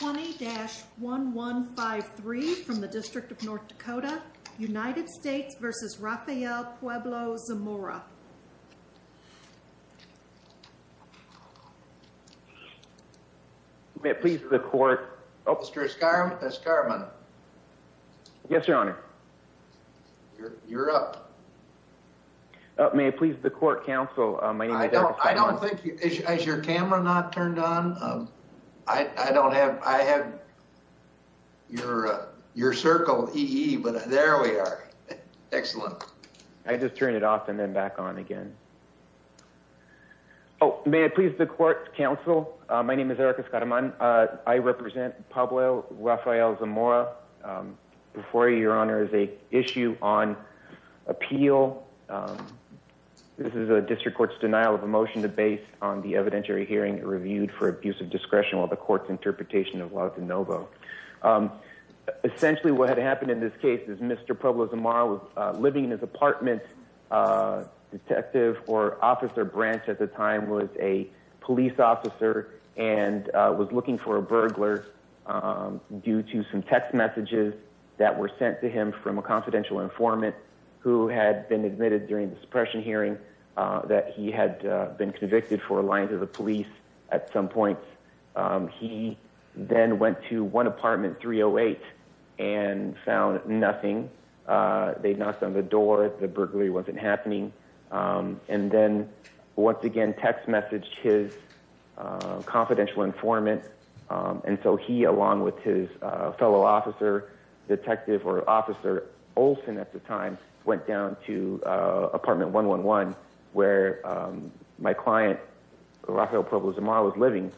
20-1153 from the District of North Dakota, United States v. Rafael Puebla-Zamora. May it please the court... Mr. Escarman. Yes, Your Honor. You're up. May it please the court counsel, my name is... I don't think... Is your camera not turned on? I don't have... I have your circle EE, but there we are. Excellent. I just turned it off and then back on again. Oh, may it please the court counsel, my name is Eric Escarman. I represent Pablo Rafael Zamora. Before you, Your Honor, is an issue on appeal. This is a district court's denial of a motion based on the evidentiary hearing reviewed for abusive discretion while the court's interpretation of law is de novo. Essentially, what had happened in this case is Mr. Puebla-Zamora was living in his apartment. Detective or Officer Branch at the time was a police officer and was looking for a burglar due to some text messages that were sent to him from a confidential informant who had been admitted during the suppression hearing that he had been convicted for lying to the police at some point. He then went to one apartment, 308, and found nothing. They knocked on the door. The burglary wasn't happening. And then once again text messaged his confidential informant. And so he, along with his fellow officer, detective or officer Olsen at the time, went down to apartment 111 where my client Rafael Puebla-Zamora was living.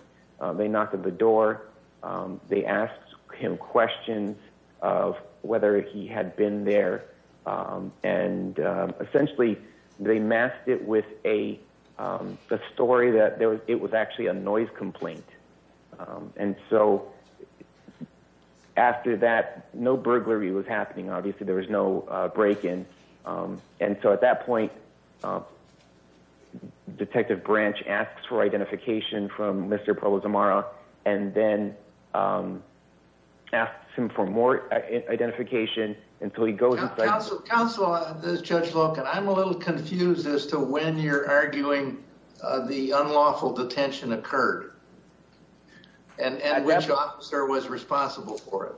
They knocked on the door. They asked him questions of whether he had been there. And essentially they masked it with a story that it was actually a noise complaint. And so after that, no burglary was happening. Obviously there was no break-in. And so at that point, Detective Branch asks for identification from Mr. Puebla-Zamora and then asks him for more identification. Counsel, this is Judge Loken. I'm a little confused as to when you're arguing the unlawful detention occurred. And which officer was responsible for it?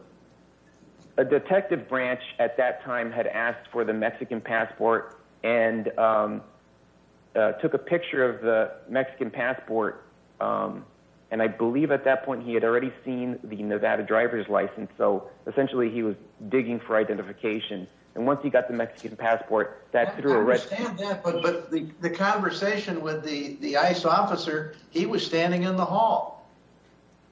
A detective branch at that time had asked for the Mexican passport and took a picture of the Mexican passport. And I believe at that point he had already seen the Nevada driver's license. So essentially he was digging for identification. And once he got the Mexican passport, that's through arrest. I understand that. But the conversation with the ICE officer, he was standing in the hall,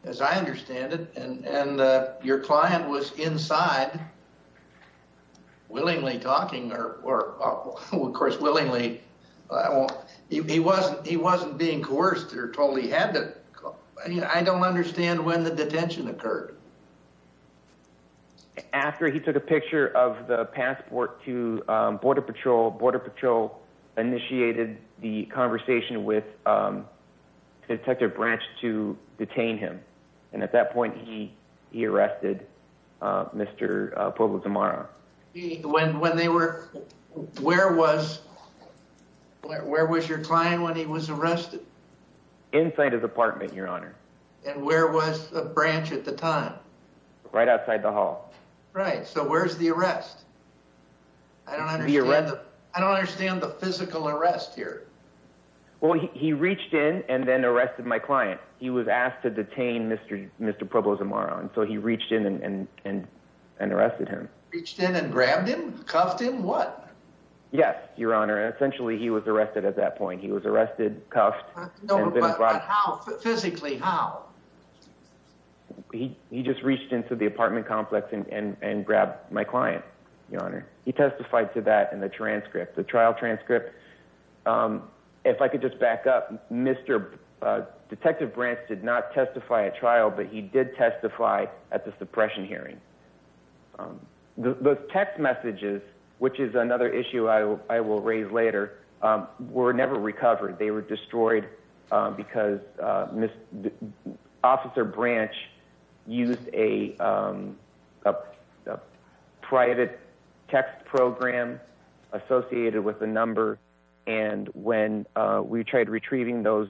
as I understand it. And your client was inside, willingly talking or, of course, willingly. He wasn't being coerced or told he had to. I don't understand when the detention occurred. After he took a picture of the passport to Border Patrol, Border Patrol initiated the conversation with Detective Branch to detain him. And at that point he arrested Mr. Puebla-Zamora. Where was your client when he was arrested? Inside his apartment, Your Honor. And where was Branch at the time? Right outside the hall. Right. So where's the arrest? I don't understand the physical arrest here. Well, he reached in and then arrested my client. He was asked to detain Mr. Puebla-Zamora. So he reached in and arrested him. Reached in and grabbed him? Cuffed him? What? Yes, Your Honor. Essentially he was arrested at that point. He was arrested, cuffed. No, but how? Physically, how? He just reached into the apartment complex and grabbed my client, Your Honor. He testified to that in the transcript, the trial transcript. If I could just back up, Detective Branch did not testify at trial, but he did testify at the suppression hearing. The text messages, which is another issue I will raise later, were never recovered. They were destroyed because Officer Branch used a private text program associated with the number. And when we tried retrieving those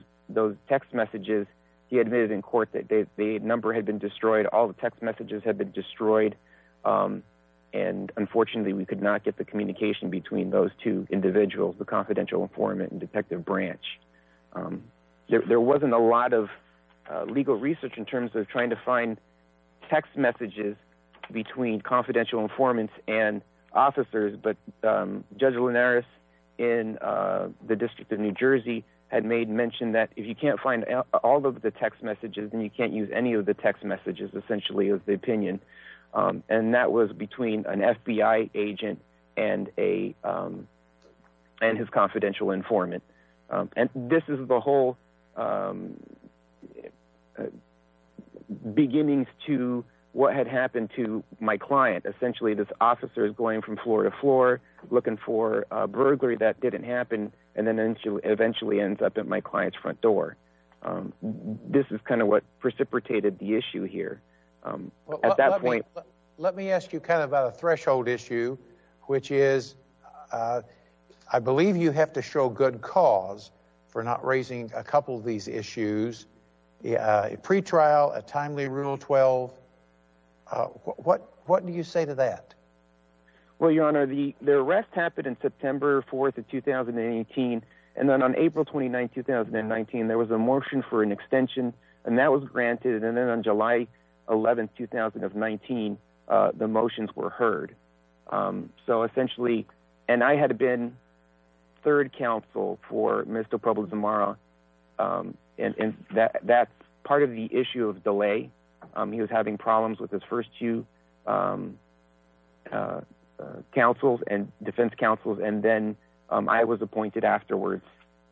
text messages, he admitted in court that the number had been destroyed. All the text messages had been destroyed, and unfortunately we could not get the communication between those two individuals, the confidential informant and Detective Branch. There wasn't a lot of legal research in terms of trying to find text messages between confidential informants and officers, but Judge Linares in the District of New Jersey had made mention that if you can't find all of the text messages, then you can't use any of the text messages essentially as the opinion. And that was between an FBI agent and his confidential informant. And this is the whole beginnings to what had happened to my client. Essentially this officer is going from floor to floor looking for a burglary that didn't happen, and then eventually ends up at my client's front door. This is kind of what precipitated the issue here at that point. Let me ask you about a threshold issue, which is I believe you have to show good cause for not raising a couple of these issues. A pretrial, a timely Rule 12. What do you say to that? Well, Your Honor, the arrest happened in September 4th of 2018. And then on April 29th, 2019, there was a motion for an extension, and that was granted. And then on July 11th, 2019, the motions were heard. So essentially, and I had been third counsel for Mr. Pablo Zamora, and that's part of the issue of delay. He was having problems with his first two defense counsels, and then I was appointed afterwards.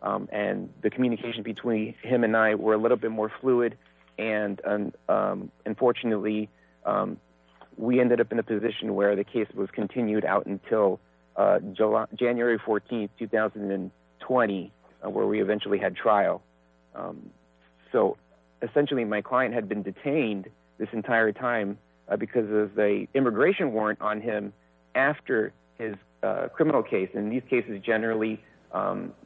And the communication between him and I were a little bit more fluid. And unfortunately, we ended up in a position where the case was continued out until January 14th, 2020, where we eventually had trial. So essentially, my client had been detained this entire time because of the immigration warrant on him after his criminal case. In these cases, generally,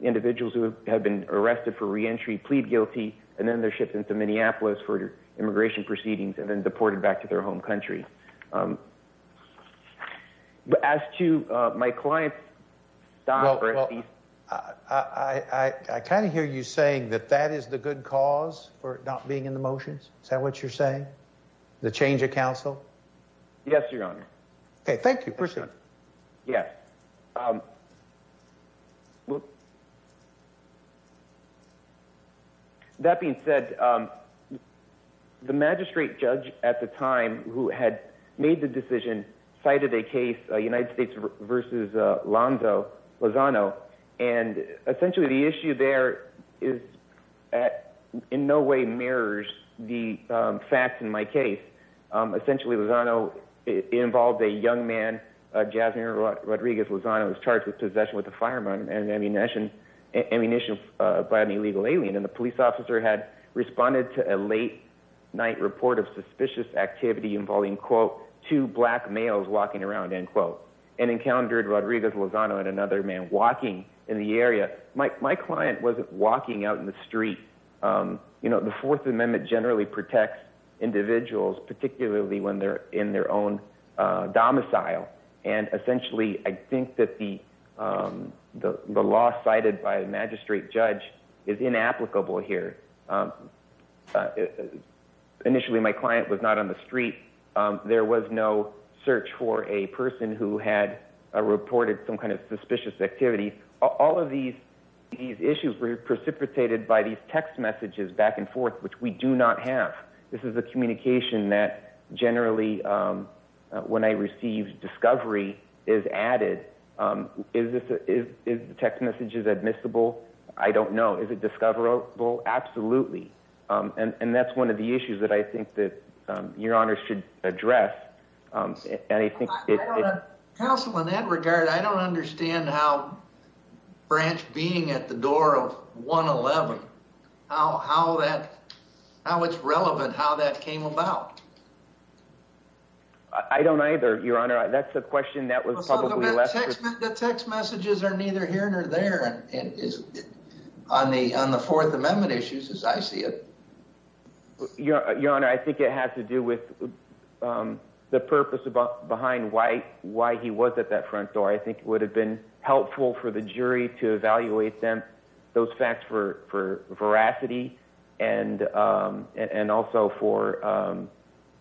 individuals who have been arrested for reentry plead guilty. And then they're shipped into Minneapolis for immigration proceedings and then deported back to their home country. But as to my client's... Well, I kind of hear you saying that that is the good cause for not being in the motions. Is that what you're saying? The change of counsel? Yes, Your Honor. Okay, thank you. Proceed. Yes. That being said, the magistrate judge at the time who had made the decision cited a case, United States v. Lonzo Lozano. And essentially, the issue there in no way mirrors the facts in my case. Essentially, Lozano involved a young man, Jasmine Rodriguez Lozano, who was charged with possession with a firearm and ammunition by an illegal alien. And the police officer had responded to a late-night report of suspicious activity involving, quote, two black males walking around, end quote, and encountered Rodriguez Lozano and another man walking in the area. My client wasn't walking out in the street. The Fourth Amendment generally protects individuals, particularly when they're in their own domicile. And essentially, I think that the law cited by the magistrate judge is inapplicable here. Initially, my client was not on the street. There was no search for a person who had reported some kind of suspicious activity. All of these issues were precipitated by these text messages back and forth, which we do not have. This is a communication that generally, when I receive discovery, is added. Is the text message admissible? I don't know. Is it discoverable? Absolutely. And that's one of the issues that I think that Your Honor should address. Counsel, in that regard, I don't understand how Branch being at the door of 111, how it's relevant, how that came about. I don't either, Your Honor. That's a question that was publicly asked. The text messages are neither here nor there on the Fourth Amendment issues, as I see it. Your Honor, I think it has to do with the purpose behind why he was at that front door. I think it would have been helpful for the jury to evaluate those facts for veracity and also for...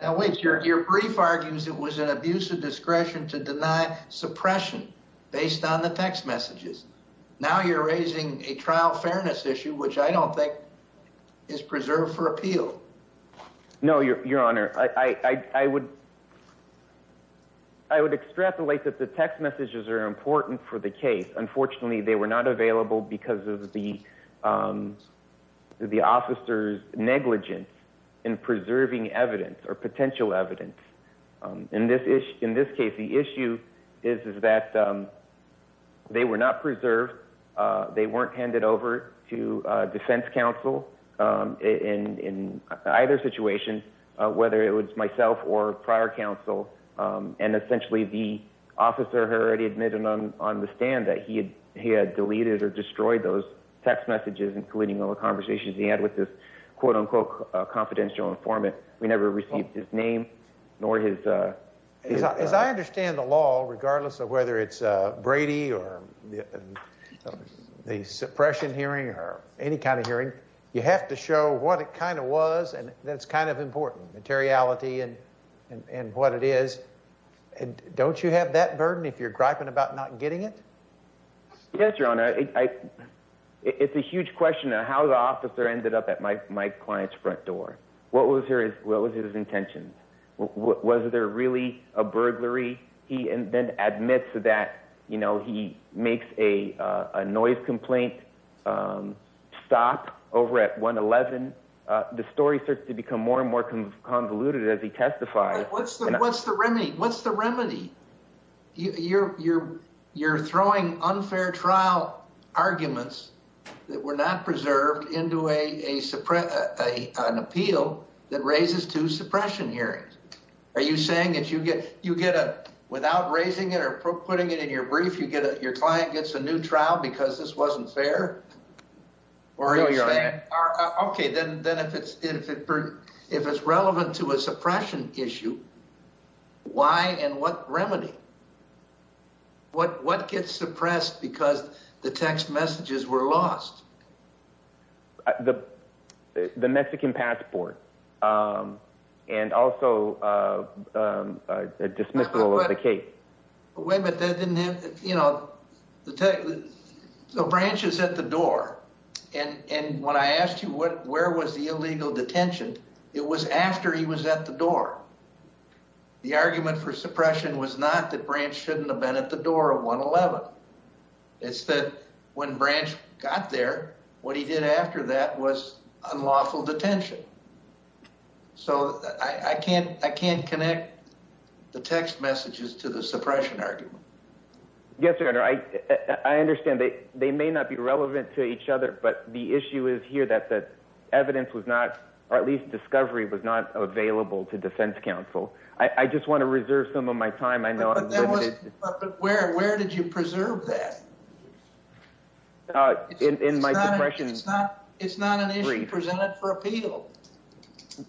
Now, wait. Your brief argues it was an abuse of discretion to deny suppression based on the text messages. Now you're raising a trial fairness issue, which I don't think is preserved for appeal. No, Your Honor. I would extrapolate that the text messages are important for the case. Unfortunately, they were not available because of the officer's negligence in preserving evidence or potential evidence. In this case, the issue is that they were not preserved. They weren't handed over to defense counsel in either situation, whether it was myself or prior counsel. And essentially, the officer had already admitted on the stand that he had deleted or destroyed those text messages, including all the conversations he had with this quote-unquote confidential informant. We never received his name nor his... As I understand the law, regardless of whether it's Brady or the suppression hearing or any kind of hearing, you have to show what it kind of was and that's kind of important, materiality and what it is. Don't you have that burden if you're griping about not getting it? Yes, Your Honor. It's a huge question of how the officer ended up at my client's front door. What was his intention? Was there really a burglary? He then admits that he makes a noise complaint stop over at 111. The story starts to become more and more convoluted as he testifies. What's the remedy? You're throwing unfair trial arguments that were not preserved into an appeal that raises to suppression hearings. Are you saying that without raising it or putting it in your brief, your client gets a new trial because this wasn't fair? No, Your Honor. Okay, then if it's relevant to a suppression issue, why and what remedy? What gets suppressed because the text messages were lost? The Mexican passport and also a dismissal of the case. Wait a minute. Branch is at the door and when I asked you where was the illegal detention, it was after he was at the door. The argument for suppression was not that Branch shouldn't have been at the door of 111. It's that when Branch got there, what he did after that was unlawful detention. So I can't connect the text messages to the suppression argument. Yes, Your Honor. I understand that they may not be relevant to each other, but the issue is here that the evidence was not, or at least discovery was not available to defense counsel. I just want to reserve some of my time. But where did you preserve that? In my suppression brief. It's not an issue presented for appeal.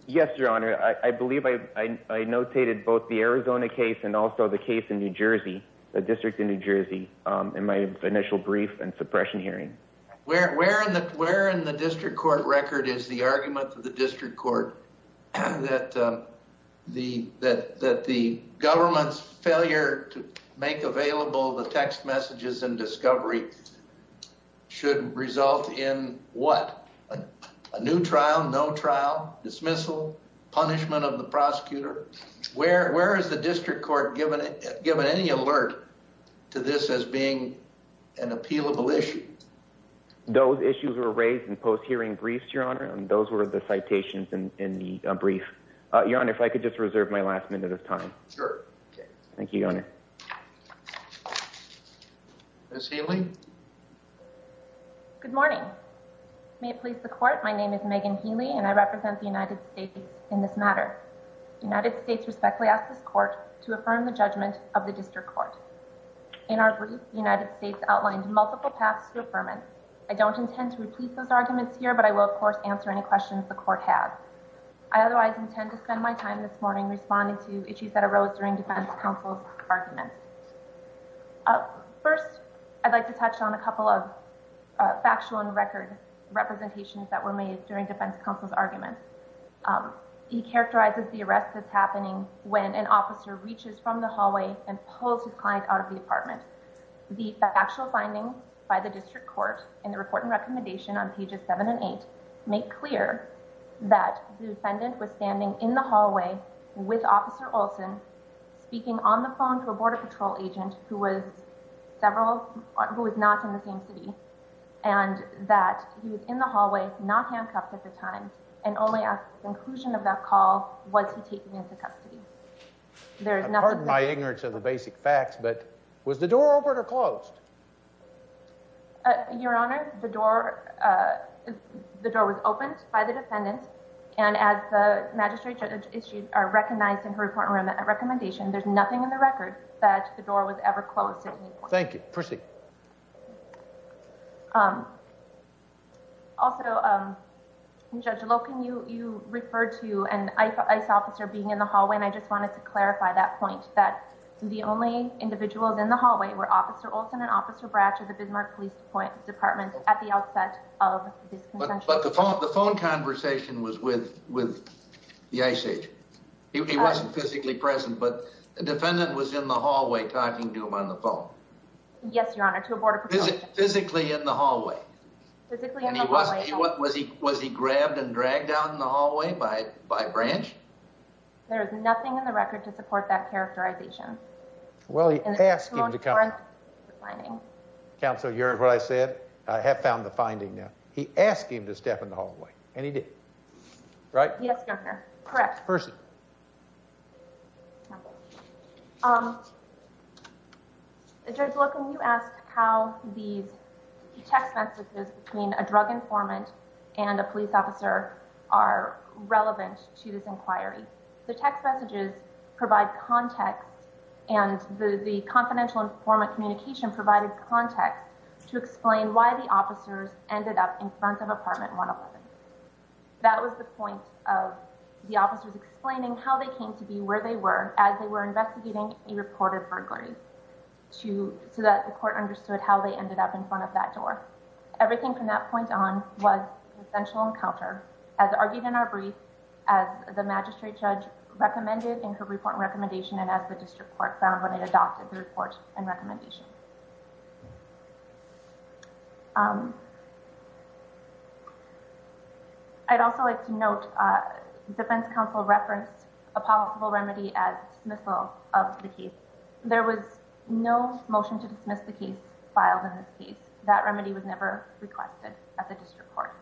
Yes, Your Honor. I believe I notated both the Arizona case and also the case in New Jersey, the District of New Jersey, in my initial brief and suppression hearing. Where in the District Court record is the argument of the District Court that the government's failure to make available the text messages and discovery should result in what? A new trial? No trial? Dismissal? Punishment of the prosecutor? Where is the District Court given any alert to this as being an appealable issue? Those issues were raised in post-hearing briefs, Your Honor, and those were the citations in the brief. Your Honor, if I could just reserve my last minute of time. Sure. Thank you, Your Honor. Ms. Healy? Good morning. May it please the Court, my name is Megan Healy and I represent the United States in this matter. The United States respectfully asks this Court to affirm the judgment of the District Court. In our brief, the United States outlined multiple paths to affirmance. I don't intend to repeat those arguments here, but I will, of course, answer any questions the Court has. I otherwise intend to spend my time this morning responding to issues that arose during Defense Counsel's arguments. First, I'd like to touch on a couple of factual and record representations that were made during Defense Counsel's arguments. First, he characterizes the arrest that's happening when an officer reaches from the hallway and pulls his client out of the apartment. The factual findings by the District Court in the Report and Recommendation on pages 7 and 8 make clear that the defendant was standing in the hallway with Officer Olson speaking on the phone to a Border Patrol agent who was not in the same city and that he was in the hallway, not handcuffed at the time, and only at the conclusion of that call was he taken into custody. I pardon my ignorance of the basic facts, but was the door open or closed? Your Honor, the door was opened by the defendant, and as the magistrate recognized in her Report and Recommendation, there's nothing in the record that the door was ever closed at any point. Thank you. Proceed. Also, Judge Loken, you referred to an ICE officer being in the hallway, and I just wanted to clarify that point, that the only individuals in the hallway were Officer Olson and Officer Bratcher of the Bismarck Police Department at the outset of this contention. But the phone conversation was with the ICE agent. He wasn't physically present, but the defendant was in the hallway talking to him on the phone. Yes, Your Honor, to a Border Patrol agent. He wasn't in the hallway? Physically in the hallway. Was he grabbed and dragged out in the hallway by Branch? There is nothing in the record to support that characterization. Well, he asked him to come. Counsel, you heard what I said. I have found the finding now. He asked him to step in the hallway, and he did. Right? Yes, Your Honor. Correct. Percy. Counsel, Judge Loken, you asked how these text messages between a drug informant and a police officer are relevant to this inquiry. The text messages provide context, and the confidential informant communication provided context to explain why the officers ended up in front of Apartment 111. That was the point of the officers explaining how they came to be where they were as they were investigating a reported burglary, so that the court understood how they ended up in front of that door. Everything from that point on was a potential encounter, as argued in our brief, as the magistrate judge recommended in her report and recommendation, and as the district court found when it adopted the report and recommendation. I'd also like to note the defense counsel referenced a possible remedy as dismissal of the case. There was no motion to dismiss the case filed in this case. That remedy was never requested at the district court.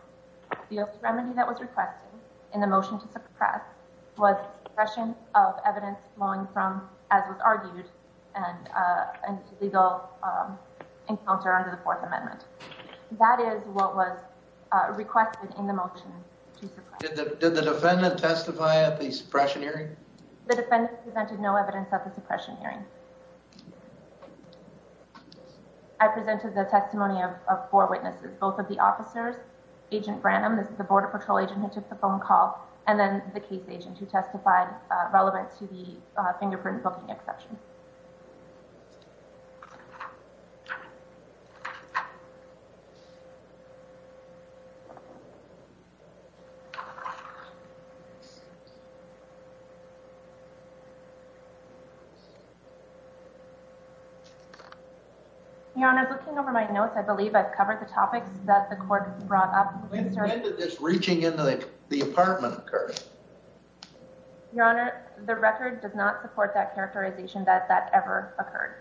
The only remedy that was requested in the motion to suppress was suppression of evidence flowing from, as was argued, an illegal encounter under the Fourth Amendment. That is what was requested in the motion to suppress. Did the defendant testify at the suppression hearing? The defendant presented no evidence at the suppression hearing. I presented the testimony of four witnesses, both of the officers, Agent Branham, the Border Patrol agent who took the phone call, and then the case agent who testified relevant to the fingerprint booking exception. Thank you. Your Honor, looking over my notes, I believe I've covered the topics that the court brought up. When did this reaching into the apartment occur? Your Honor, the record does not support that characterization that that ever occurred.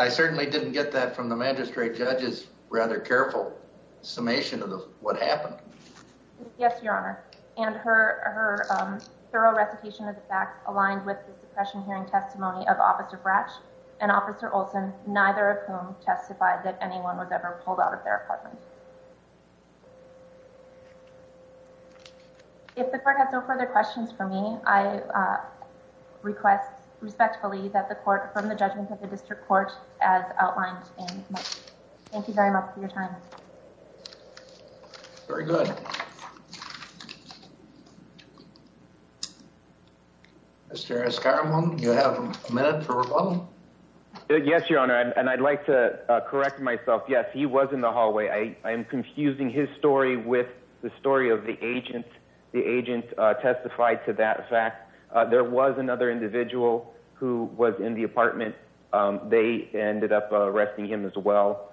I certainly didn't get that from the magistrate judge's rather careful summation of what happened. Yes, Your Honor. And her thorough recitation of the facts aligned with the suppression hearing testimony of Officer Bratch and Officer Olson, neither of whom testified that anyone was ever pulled out of their apartment. If the court has no further questions for me, I request respectfully that the court from the judgment of the district court as outlined in the motion. Thank you very much for your time. Very good. Mr. Escaramonte, you have a minute for rebuttal. Yes, Your Honor, and I'd like to correct myself. Yes, he was in the hallway. I am confusing his story with the story of the agent. The agent testified to that fact. There was another individual who was in the apartment. They ended up arresting him as well.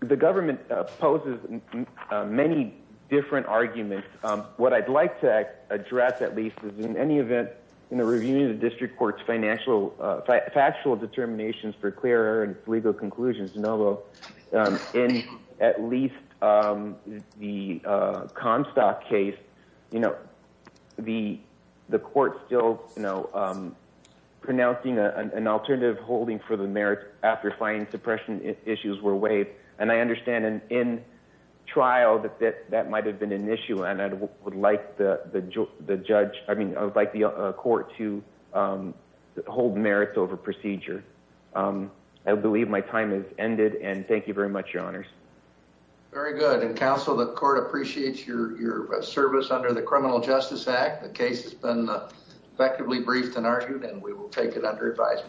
The government poses many different arguments. What I'd like to address, at least, is in any event, in the review of the district court's factual determinations for clear and legal conclusions, in at least the Comstock case, the court still pronouncing an alternative holding for the merits after finding suppression issues were waived. And I understand in trial that that might have been an issue. And I would like the court to hold merits over procedure. I believe my time has ended, and thank you very much, Your Honors. Very good, and counsel, the court appreciates your service under the Criminal Justice Act. The case has been effectively briefed and argued, and we will take it under advisement.